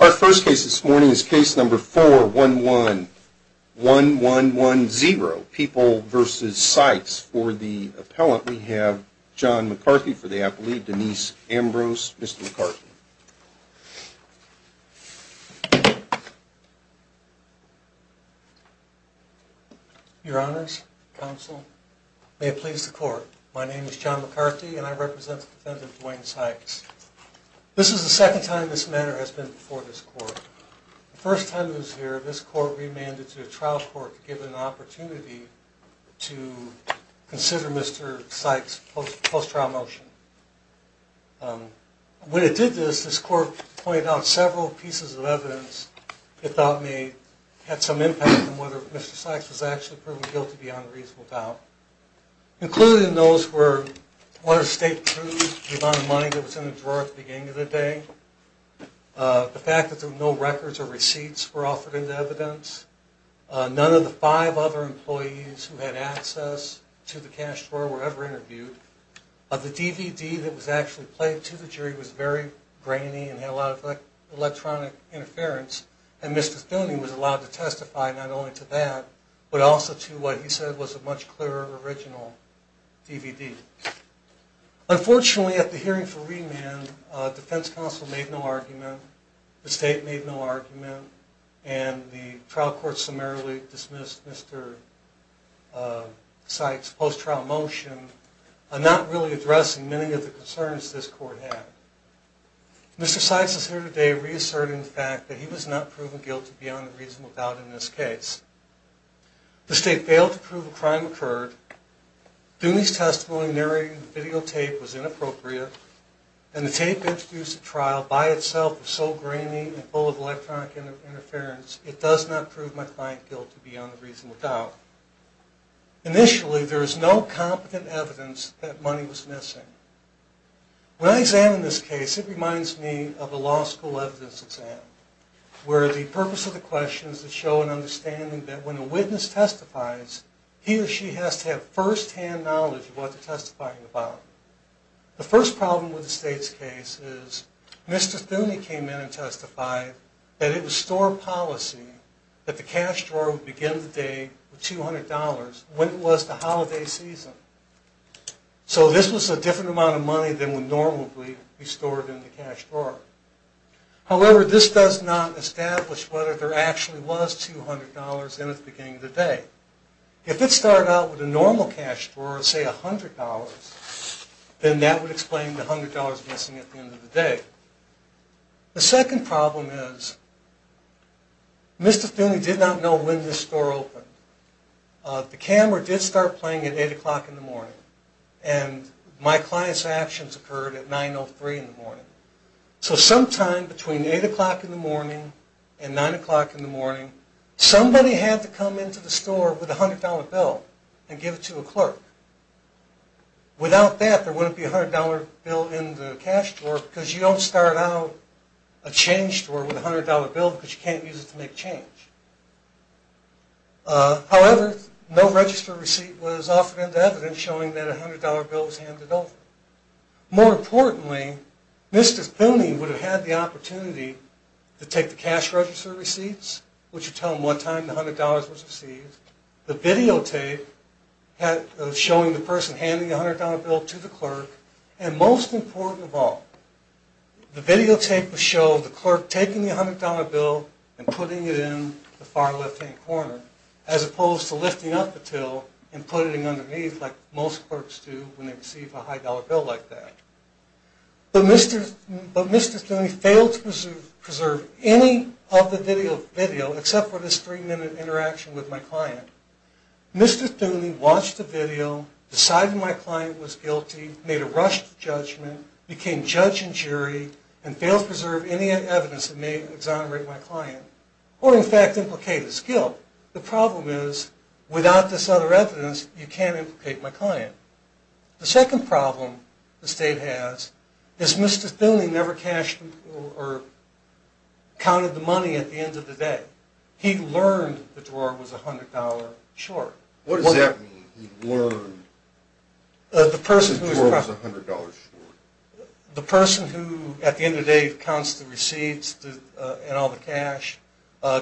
Our first case this morning is case number 4111110, People v. Sykes. For the appellant we have John McCarthy for the applelead, Denise Ambrose. Mr. McCarthy. Your honors, counsel, may it please the court. My name is John McCarthy and I represent the defendant, Duane Sykes. This is the second time this matter has been before this court. The first time it was here, this court remanded to the trial court to give it an opportunity to consider Mr. Sykes' post-trial motion. When it did this, this court pointed out several pieces of evidence that thought may have some impact on whether Mr. Sykes was actually proven guilty beyond reasonable doubt, including those where one of the state proved the amount of money that was in the drawer at the beginning of the day, the fact that there were no records or receipts were offered into evidence, none of the five other employees who had access to the cash drawer were ever interviewed, the DVD that was actually played to the jury was very grainy and had a lot of electronic interference, and Mr. Filney was allowed to testify not only to that, but also to what he said was a much clearer original DVD. Unfortunately, at the hearing for remand, defense counsel made no argument, the state made no argument, and the trial court summarily dismissed Mr. Sykes' post-trial motion, not really addressing many of the concerns this court had. Mr. Sykes is here today reasserting the fact that he was not proven guilty beyond reasonable doubt in this case. The state failed to prove a crime occurred, Duney's testimony narrating the videotape was inappropriate, and the tape introduced the trial by itself was so grainy and full of electronic interference, it does not prove my client guilty beyond reasonable doubt. Initially, there was no competent evidence that money was missing. When I examine this case, it reminds me of a law school evidence exam, where the purpose of the question is to show an understanding that when a witness testifies, he or she has to have first-hand knowledge of what they're testifying about. The first problem with the state's case is Mr. Thune came in and testified that it was store policy that the cash drawer would begin the day with $200 when it was the holiday season. So this was a different amount of money than would normally be stored in the cash drawer. However, this does not establish whether there actually was $200 in it at the beginning of the day. If it started out with a normal cash drawer of, say, $100, then that would explain the $100 missing at the end of the day. The second problem is Mr. Thune did not know when this store opened. The camera did start playing at 8 o'clock in the morning, and my client's actions occurred at 9.03 in the morning. So sometime between 8 o'clock in the morning and 9 o'clock in the morning, somebody had to come into the store with a $100 bill and give it to a clerk. Without that, there wouldn't be a $100 bill in the cash drawer because you don't start out a change drawer with a $100 bill because you can't use it to make change. However, no register receipt was offered into evidence showing that a $100 bill was handed over. More importantly, Mr. Thune would have had the opportunity to take the cash register receipts, which would tell him what time the $100 was received, the videotape showing the person handing the $100 bill to the clerk, and most important of all, the videotape would show the clerk taking the $100 bill and putting it in the far left-hand corner as opposed to lifting up the till and putting it underneath like most clerks do when they receive a high-dollar bill like that. But Mr. Thune failed to preserve any of the video except for this three-minute interaction with my client. Mr. Thune watched the video, decided my client was guilty, made a rushed judgment, became judge and jury, and failed to preserve any evidence that may exonerate my client or, in fact, implicate his guilt. The problem is, without this other evidence, you can't implicate my client. The second problem the state has is Mr. Thune never cashed or counted the money at the end of the day. He learned the drawer was $100 short. What does that mean, he learned the drawer was $100 short? The person who, at the end of the day, counts the receipts and all the cash,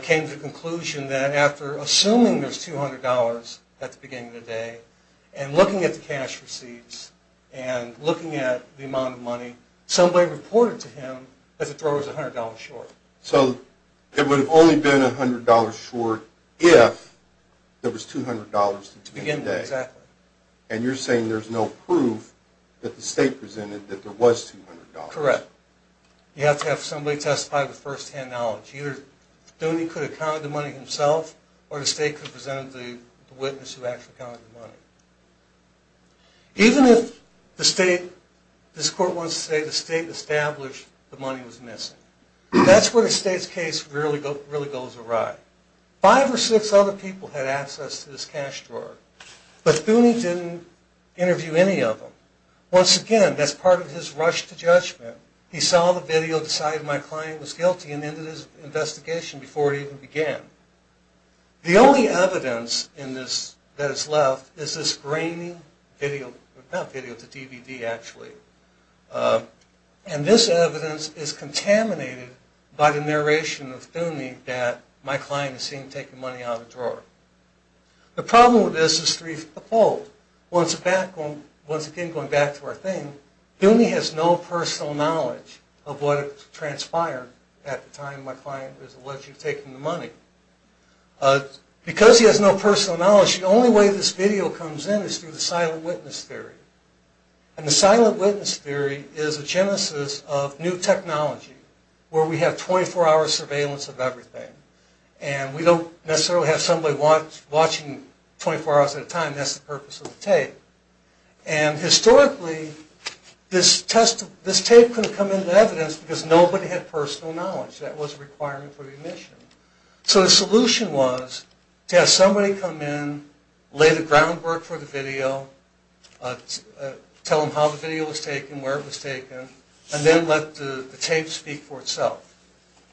came to the conclusion that after assuming there's $200 at the beginning of the day and looking at the cash receipts and looking at the amount of money, somebody reported to him that the drawer was $100 short. So it would have only been $100 short if there was $200 at the beginning of the day. Exactly. And you're saying there's no proof that the state presented that there was $200. Correct. You have to have somebody testify with firsthand knowledge. Either Thune could have counted the money himself, or the state could have presented the witness who actually counted the money. Even if the state, this court wants to say the state established the money was missing. That's where the state's case really goes awry. Five or six other people had access to this cash drawer. But Thune didn't interview any of them. Once again, that's part of his rush to judgment. He saw the video, decided my client was guilty, and ended his investigation before it even began. The only evidence that is left is this grainy DVD, and this evidence is contaminated by the narration of Thune that my client is seen taking money out of the drawer. The problem with this is threefold. Once again, going back to our thing, Thune has no personal knowledge of what transpired at the time my client was allegedly taking the money. Because he has no personal knowledge, the only way this video comes in is through the silent witness theory. And the silent witness theory is a genesis of new technology, where we have 24-hour surveillance of everything. And we don't necessarily have somebody watching 24 hours at a time. That's the purpose of the tape. And historically, this tape couldn't come into evidence because nobody had personal knowledge. That was a requirement for the admission. So the solution was to have somebody come in, lay the groundwork for the video, tell them how the video was taken, where it was taken, and then let the tape speak for itself.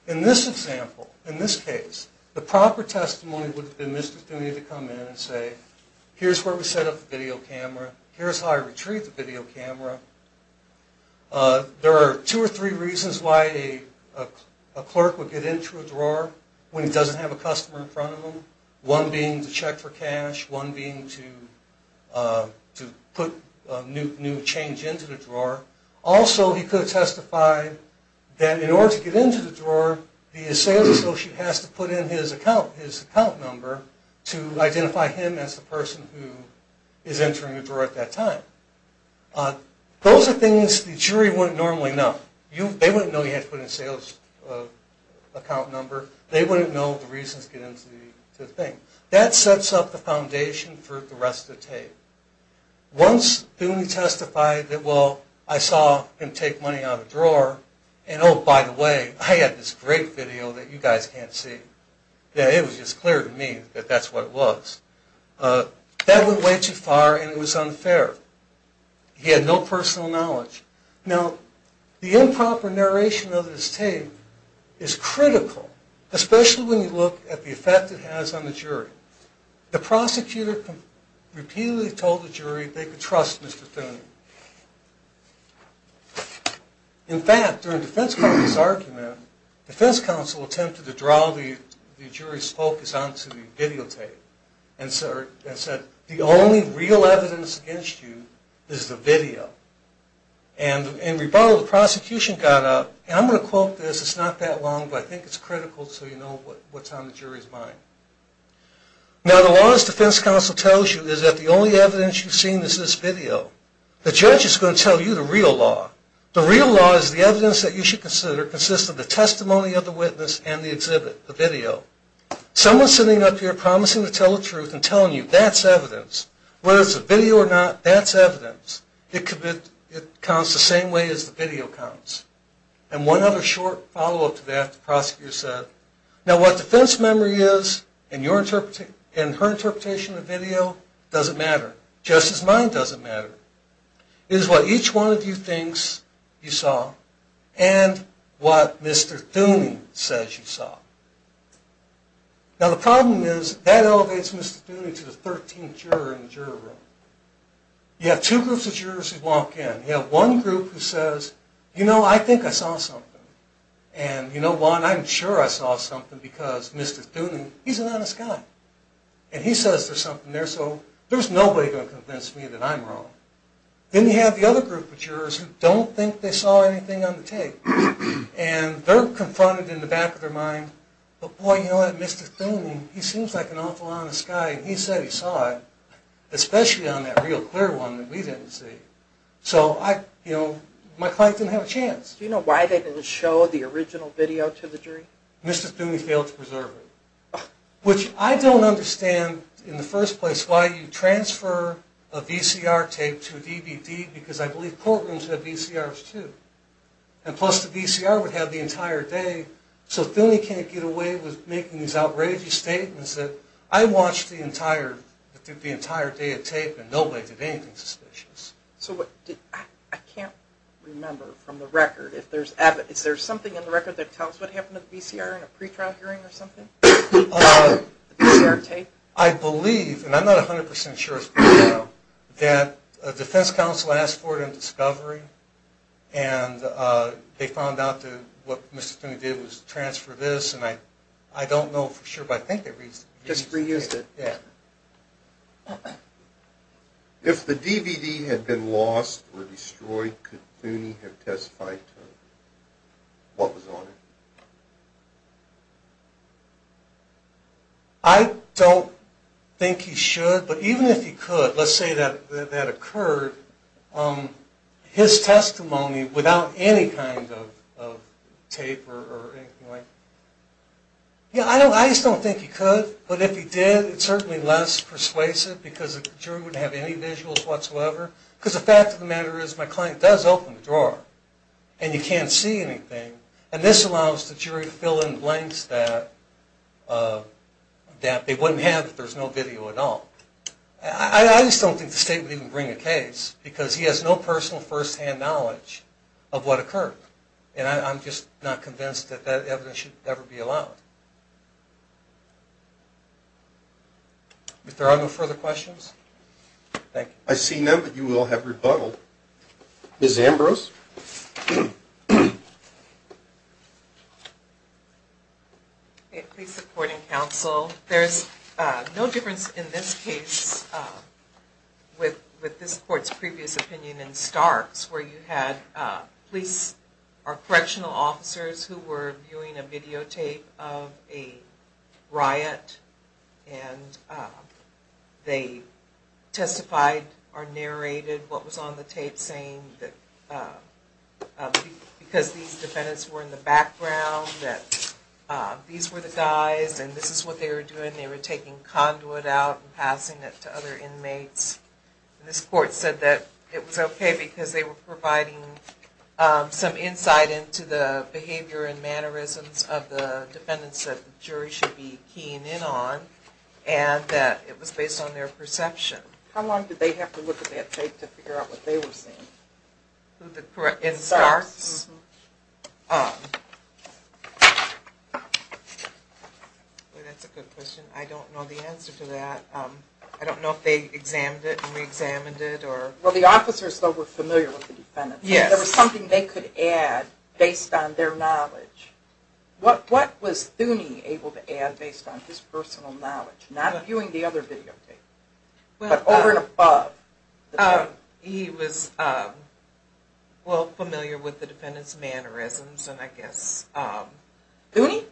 In this example, in this case, the proper testimony would have been Mr. Thune to come in and say, here's where we set up the video camera. Here's how I retrieved the video camera. There are two or three reasons why a clerk would get into a drawer when he doesn't have a customer in front of him. One being to check for cash. One being to put new change into the drawer. Also, he could have testified that in order to get into the drawer, the sales associate has to put in his account number to identify him as the person who is entering the drawer at that time. Those are things the jury wouldn't normally know. They wouldn't know he had to put in a sales account number. They wouldn't know the reasons to get into the thing. That sets up the foundation for the rest of the tape. Once Thune testified that, well, I saw him take money out of the drawer, and oh, by the way, I have this great video that you guys can't see. It was just clear to me that that's what it was. That went way too far, and it was unfair. He had no personal knowledge. Now, the improper narration of this tape is critical, especially when you look at the effect it has on the jury. The prosecutor repeatedly told the jury they could trust Mr. Thune. In fact, during defense counsel's argument, defense counsel attempted to draw the jury's focus onto the videotape and said the only real evidence against you is the video. In rebuttal, the prosecution got up, and I'm going to quote this. It's not that long, but I think it's critical so you know what's on the jury's mind. Now, the law, as defense counsel tells you, is that the only evidence you've seen is this video. The judge is going to tell you the real law. The real law is the evidence that you should consider consists of the testimony of the witness and the exhibit, the video. Someone's sitting up here promising to tell the truth and telling you that's evidence. Whether it's a video or not, that's evidence. It counts the same way as the video counts. And one other short follow-up to that, the prosecutor said, now what defense memory is in her interpretation of the video doesn't matter. Justice's mind doesn't matter. It is what each one of you thinks you saw and what Mr. Thune says you saw. Now, the problem is that elevates Mr. Thune to the 13th juror in the jury room. You have two groups of jurors who walk in. You have one group who says, you know, I think I saw something. And you know what, I'm sure I saw something because Mr. Thune, he's an honest guy. And he says there's something there, so there's nobody going to convince me that I'm wrong. Then you have the other group of jurors who don't think they saw anything on the tape. And they're confronted in the back of their mind, but boy, you know what, Mr. Thune, he seems like an awful honest guy, and he said he saw it, especially on that real clear one that we didn't see. So I, you know, my client didn't have a chance. Do you know why they didn't show the original video to the jury? Mr. Thune failed to preserve it, which I don't understand in the first place why you transfer a VCR tape to a DVD because I believe courtrooms have VCRs too. And plus the VCR would have the entire day, so Thune can't get away with making these outrageous statements that I watched the entire day of tape and nobody did anything suspicious. So I can't remember from the record, is there something in the record that tells what happened to the VCR in a pretrial hearing or something? The VCR tape? I believe, and I'm not 100% sure as to what I know, that a defense counsel asked for it in discovery, and they found out that what Mr. Thune did was transfer this, and I don't know for sure, but I think they reused it. Just reused it? Yeah. If the DVD had been lost or destroyed, could Thune have testified to what was on it? I don't think he should, but even if he could, let's say that occurred, his testimony without any kind of tape or anything like that, I just don't think he could. But if he did, it's certainly less persuasive because the jury wouldn't have any visuals whatsoever. Because the fact of the matter is my client does open the drawer, and you can't see anything, and this allows the jury to fill in blanks that they wouldn't have if there was no video at all. I just don't think the state would even bring a case because he has no personal first-hand knowledge of what occurred, and I'm just not convinced that that evidence should ever be allowed. If there are no further questions, thank you. I see none, but you will have rebuttaled. Ms. Ambrose? Please support and counsel. There's no difference in this case with this court's previous opinion in Starks where you had police or correctional officers who were viewing a videotape of a riot, and they testified or narrated what was on the tape saying that because these defendants were in the background, that these were the guys and this is what they were doing, they were taking conduit out and passing it to other inmates. This court said that it was okay because they were providing some insight into the behavior and mannerisms of the defendants that the jury should be keying in on, and that it was based on their perception. How long did they have to look at that tape to figure out what they were seeing? In Starks? That's a good question. I don't know the answer to that. I don't know if they examined it and re-examined it. Well, the officers were familiar with the defendants. There was something they could add based on their knowledge. What was Thuny able to add based on his personal knowledge, not viewing the other videotapes, but over and above? He was well familiar with the defendants' mannerisms. Thuny?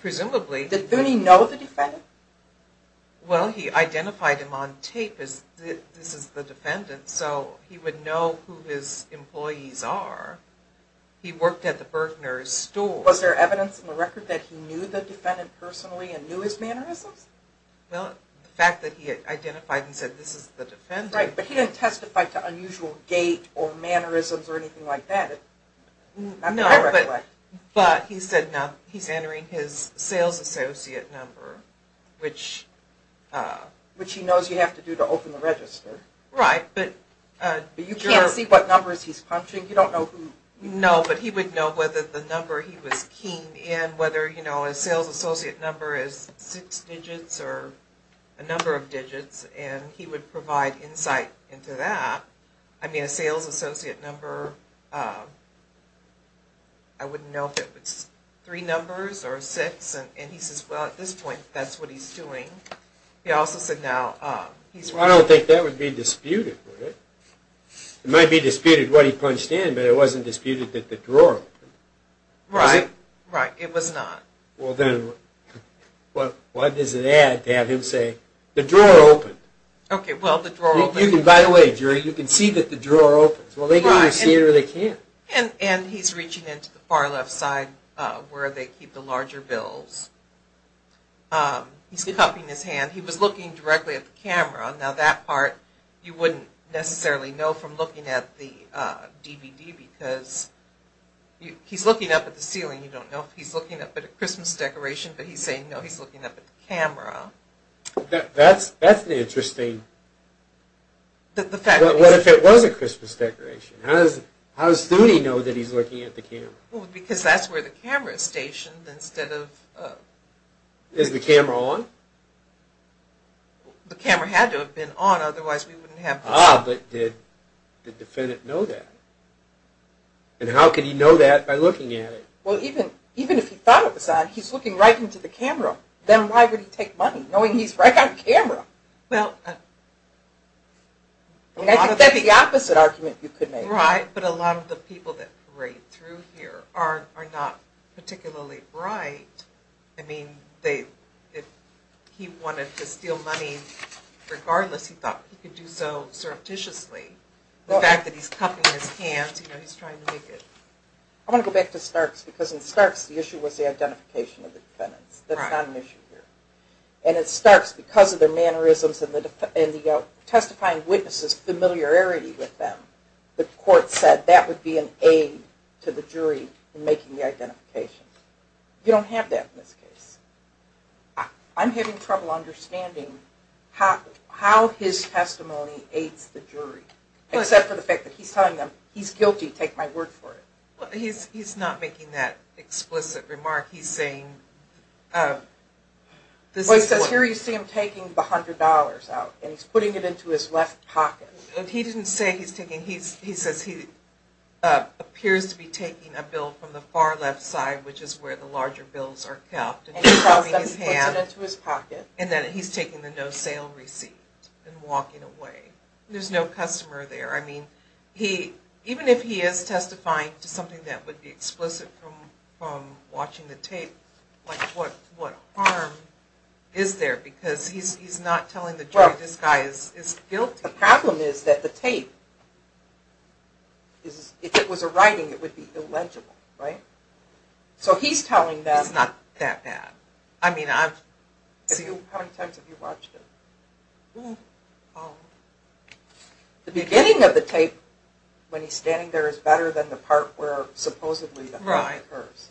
Presumably. Did Thuny know the defendant? Well, he identified him on tape as this is the defendant, so he would know who his employees are. He worked at the Berkner's store. Was there evidence in the record that he knew the defendant personally and knew his mannerisms? Well, the fact that he identified and said this is the defendant. Right, but he didn't testify to unusual gait or mannerisms or anything like that. No, but he said he's entering his sales associate number, which he knows you have to do to open the register. Right, but you can't see what numbers he's punching. No, but he would know whether the number he was keen in, whether his sales associate number is six digits or a number of digits, and he would provide insight into that. I mean, a sales associate number, I wouldn't know if it was three numbers or six, and he says, well, at this point, that's what he's doing. I don't think that would be disputed. It might be disputed what he punched in, but it wasn't disputed that the drawer opened. Right, right, it was not. Well, then, what does it add to have him say, the drawer opened? Okay, well, the drawer opened. By the way, Jerry, you can see that the drawer opens. Well, they can either see it or they can't. And he's reaching into the far left side where they keep the larger bills. He's cupping his hand. He was looking directly at the camera. Now, that part you wouldn't necessarily know from looking at the DVD because he's looking up at the ceiling. You don't know if he's looking up at a Christmas decoration, but he's saying, no, he's looking up at the camera. That's interesting. What if it was a Christmas decoration? How does Study know that he's looking at the camera? Well, because that's where the camera is stationed instead of… Is the camera on? The camera had to have been on, otherwise we wouldn't have… Ah, but did the defendant know that? And how could he know that by looking at it? Well, even if he thought it was on, he's looking right into the camera. Then why would he take money, knowing he's right on camera? Well, that's the opposite argument you could make. Right, but a lot of the people that parade through here are not particularly bright. I mean, if he wanted to steal money regardless, he thought he could do so surreptitiously. The fact that he's cuffing his hands, he's trying to make it… I want to go back to Starks because in Starks, the issue was the identification of the defendants. That's not an issue here. And in Starks, because of their mannerisms and the testifying witnesses' familiarity with them, the court said that would be an aid to the jury in making the identification. You don't have that in this case. I'm having trouble understanding how his testimony aids the jury, except for the fact that he's telling them, he's guilty, take my word for it. He's not making that explicit remark. He's saying… Well, he says here you see him taking the $100 out, and he's putting it into his left pocket. He didn't say he's taking… He says he appears to be taking a bill from the far left side, which is where the larger bills are kept, and he's rubbing his hand, and that he's taking the no sale receipt and walking away. There's no customer there. I mean, even if he is testifying to something that would be explicit from watching the tape, what harm is there? Because he's not telling the jury this guy is guilty. The problem is that the tape, if it was a writing, it would be illegible, right? So he's telling them… It's not that bad. I mean, I've… How many times have you watched it? The beginning of the tape, when he's standing there, is better than the part where supposedly the crime occurs.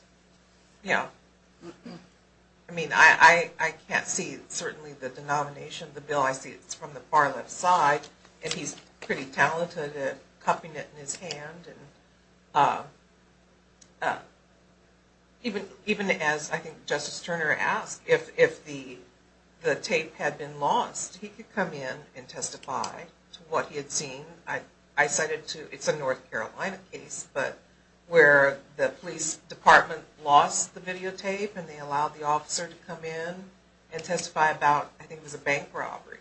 Yeah. I mean, I can't see certainly the denomination of the bill. I see it's from the far left side, and he's pretty talented at cupping it in his hand. Even as, I think, Justice Turner asked, if the tape had been lost, he could come in and testify to what he had seen. I cited two… It's a North Carolina case, but where the police department lost the videotape, and they allowed the officer to come in and testify about, I think it was a bank robbery,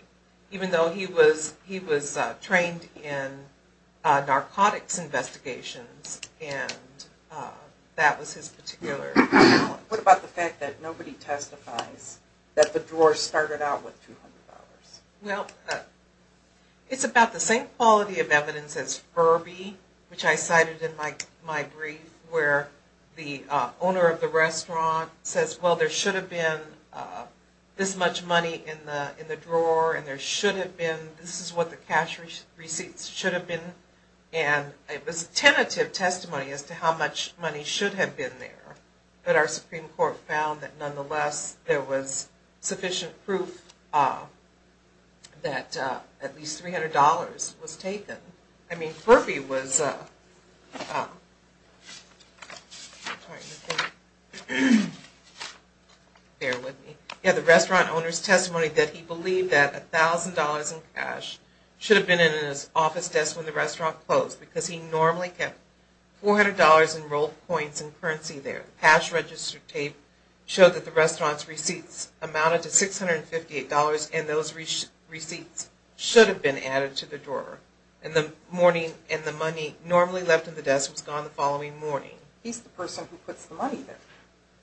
even though he was trained in narcotics investigations, and that was his particular talent. What about the fact that nobody testifies that the drawer started out with $200? Well, it's about the same quality of evidence as Furby, which I cited in my brief, where the owner of the restaurant says, well, there should have been this much money in the drawer, and there should have been, this is what the cash receipts should have been, and it was tentative testimony as to how much money should have been there. But our Supreme Court found that, nonetheless, there was sufficient proof that at least $300 was taken. Furby had the restaurant owner's testimony that he believed that $1,000 in cash should have been in his office desk when the restaurant closed, because he normally kept $400 in rolled coins and currency there. Cash register tape showed that the restaurant's receipts amounted to $658, and those receipts should have been added to the drawer. And the money normally left in the desk was gone the following morning. He's the person who puts the money there.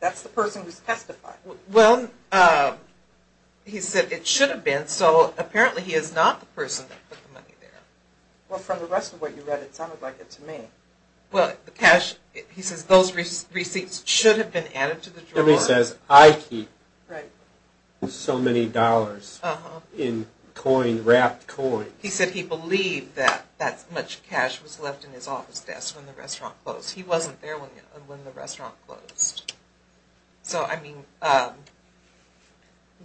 That's the person who's testifying. Well, he said it should have been, so apparently he is not the person that put the money there. Well, from the rest of what you read, it sounded like it to me. Well, he says those receipts should have been added to the drawer. He says, I keep so many dollars in wrapped coins. He said he believed that that much cash was left in his office desk when the restaurant closed. He wasn't there when the restaurant closed. So, I mean,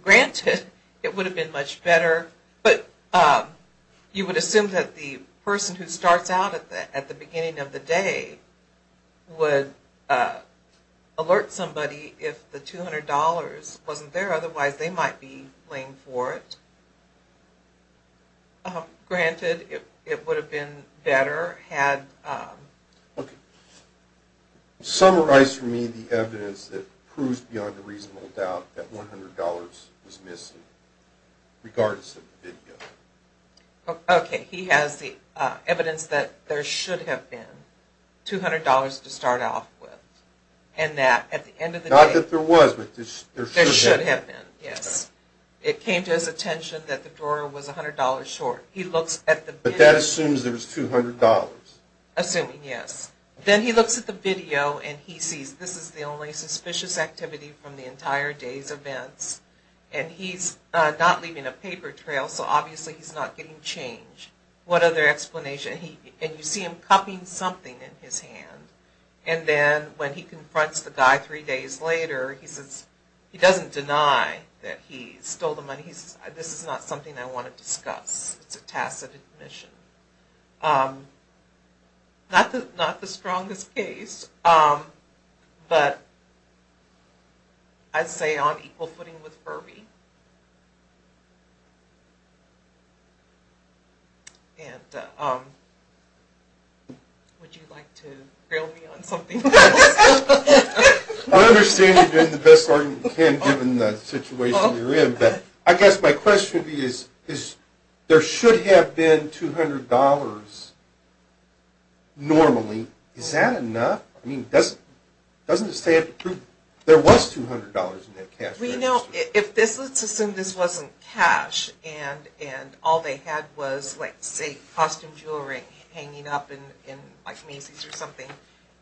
granted, it would have been much better, but you would assume that the person who starts out at the beginning of the day would alert somebody if the $200 wasn't there, but granted, it would have been better had... Okay. Summarize for me the evidence that proves beyond a reasonable doubt that $100 was missing, regardless of the video. Okay. He has the evidence that there should have been $200 to start off with, and that at the end of the day... Not that there was, but there should have been. There should have been, yes. It came to his attention that the drawer was $100 short. But that assumes there was $200. Assuming, yes. Then he looks at the video, and he sees this is the only suspicious activity from the entire day's events, and he's not leaving a paper trail, so obviously he's not getting change. What other explanation? And you see him cupping something in his hand, and then when he confronts the guy three days later, he says he doesn't deny that he stole the money. He says, this is not something I want to discuss. It's a tacit admission. Not the strongest case, but I'd say on equal footing with Furby. And would you like to grill me on something else? I understand you're doing the best argument you can, given the situation you're in. But I guess my question to you is, there should have been $200 normally. Is that enough? I mean, doesn't this have to prove there was $200 in that cash register? Well, you know, let's assume this wasn't cash, and all they had was, like, say, costume jewelry hanging up in like mazes or something.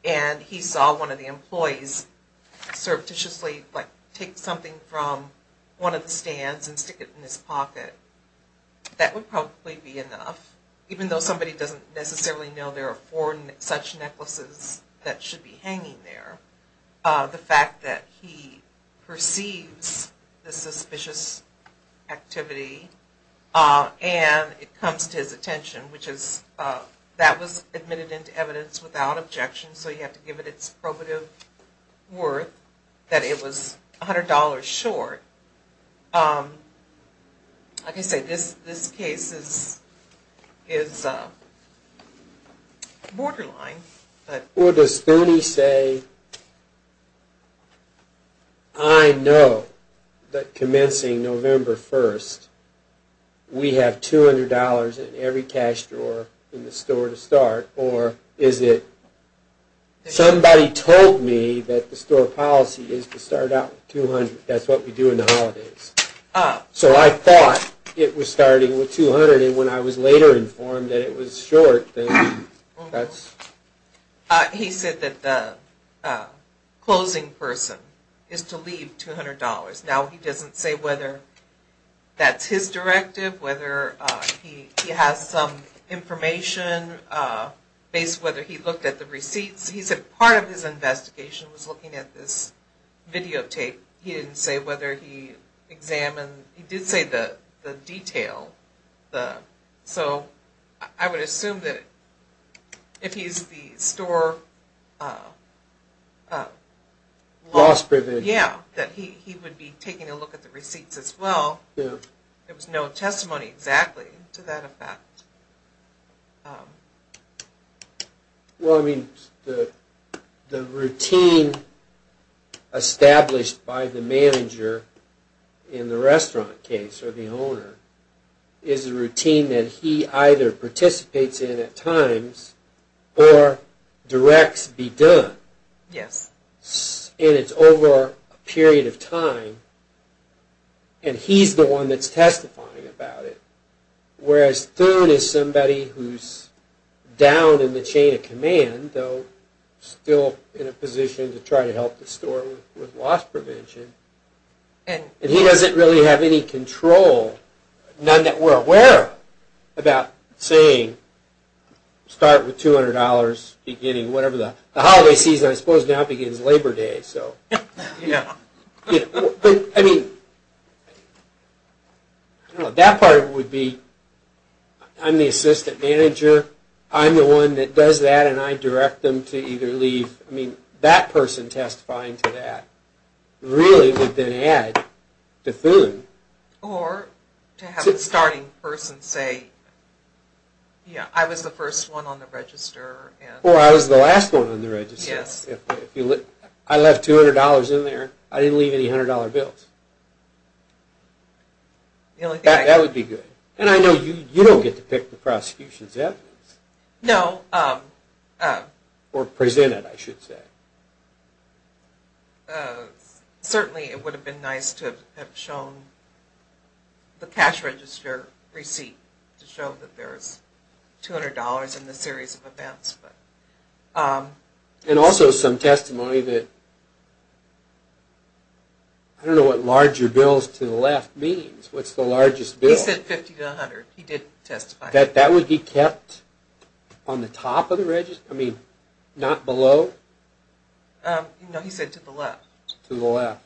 And he saw one of the employees surreptitiously, like, take something from one of the stands and stick it in his pocket. That would probably be enough, even though somebody doesn't necessarily know there are four such necklaces that should be hanging there. The fact that he perceives the suspicious activity and it comes to his attention, which is that was admitted into evidence without objection, so you have to give it its probative worth, that it was $100 short. Like I said, this case is borderline. Or does Furby say, I know that commencing November 1st, we have $200 in every cash drawer in the store to start, or is it somebody told me that the store policy is to start out with $200. That's what we do in the holidays. So I thought it was starting with $200, and when I was later informed that it was short, then that's... He said that the closing person is to leave $200. Now he doesn't say whether that's his directive, whether he has some information, based on whether he looked at the receipts. He said part of his investigation was looking at this videotape. He didn't say whether he examined... He did say the detail. So I would assume that if he's the store... Yeah, that he would be taking a look at the receipts as well. There was no testimony exactly to that effect. Well, I mean, the routine established by the manager in the restaurant case, or the owner, is a routine that he either participates in at times, or directs be done. And it's over a period of time, and he's the one that's testifying about it. Whereas Thun is somebody who's down in the chain of command, though still in a position to try to help the store with loss prevention. And he doesn't really have any control, none that we're aware of, about saying, start with $200, beginning whatever the... The holiday season, I suppose, now begins Labor Day. Yeah. I mean, that part would be, I'm the assistant manager, I'm the one that does that, and I direct them to either leave... I mean, that person testifying to that really would then add to Thun. Or to have the starting person say, yeah, I was the first one on the register. Or I was the last one on the register. Yes. If I left $200 in there, I didn't leave any $100 bills. That would be good. And I know you don't get to pick the prosecution's evidence. No. Or present it, I should say. Certainly it would have been nice to have shown the cash register receipt to show that there's $200 in the series of events. And also some testimony that... I don't know what larger bills to the left means. What's the largest bill? He said 50 to 100. He did testify. That would be kept on the top of the register? I mean, not below? No, he said to the left. To the left.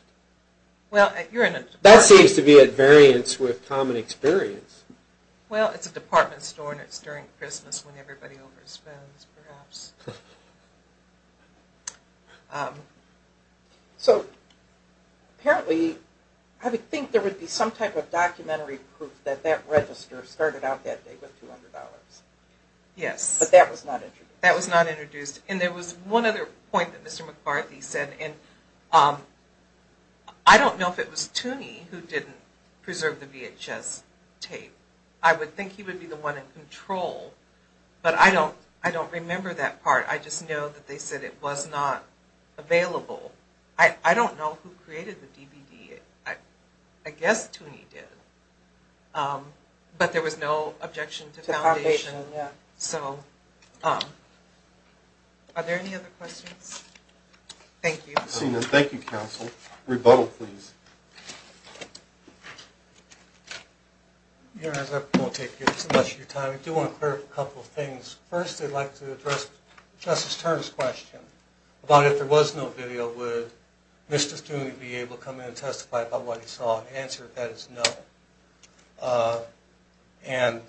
That seems to be at variance with common experience. Well, it's a department store, and it's during Christmas when everybody overspends, perhaps. So apparently I would think there would be some type of documentary proof that that register started out that day with $200. Yes. But that was not introduced. That was not introduced. And there was one other point that Mr. McCarthy said, and I don't know if it was Tooney who didn't preserve the VHS tape. I would think he would be the one in control, but I don't remember that part. I just know that they said it was not available. I don't know who created the DVD. I guess Tooney did. But there was no objection to foundation. So are there any other questions? Thank you. Thank you, counsel. Rebuttal, please. Your Honor, I won't take too much of your time. I do want to clarify a couple of things. First, I'd like to address Justice Turner's question about if there was no video, would Mr. Tooney be able to come in and testify about what he saw? The answer to that is no. And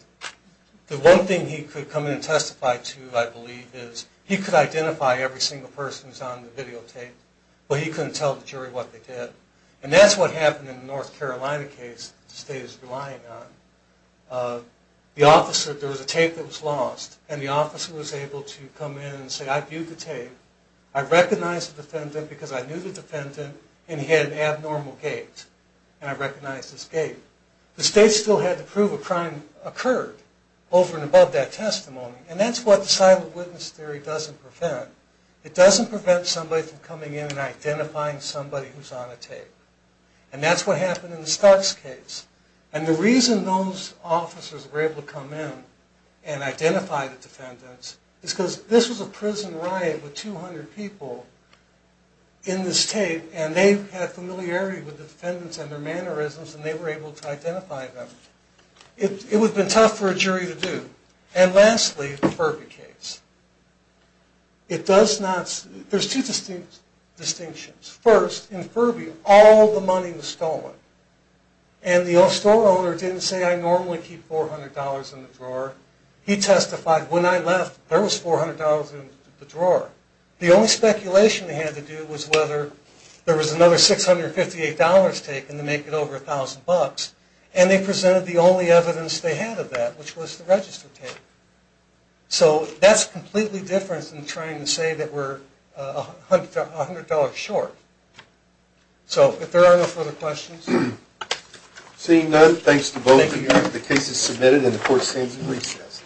the one thing he could come in and testify to, I believe, is he could identify every single person who was on the videotape, but he couldn't tell the jury what they did. And that's what happened in the North Carolina case that the State is relying on. There was a tape that was lost, and the officer was able to come in and say, I viewed the tape. I recognized the defendant because I knew the defendant, and he had an abnormal gait. And I recognized his gait. The State still had to prove a crime occurred over and above that testimony, and that's what the silent witness theory doesn't prevent. It doesn't prevent somebody from coming in and identifying somebody who's on a tape. And that's what happened in the Starks case. And the reason those officers were able to come in and identify the defendants is because this was a prison riot with 200 people in this tape, and they had familiarity with the defendants and their mannerisms, and they were able to identify them. It would have been tough for a jury to do. And lastly, the Furby case. It does not... There's two distinctions. First, in Furby, all the money was stolen. And the store owner didn't say, I normally keep $400 in the drawer. He testified, when I left, there was $400 in the drawer. The only speculation they had to do was whether there was another $658 taken to make it over $1,000. And they presented the only evidence they had of that, which was the register tape. So that's completely different than trying to say that we're $100 short. So if there are no further questions... Seeing none, thanks to both of you. The case is submitted, and the court stands in recess.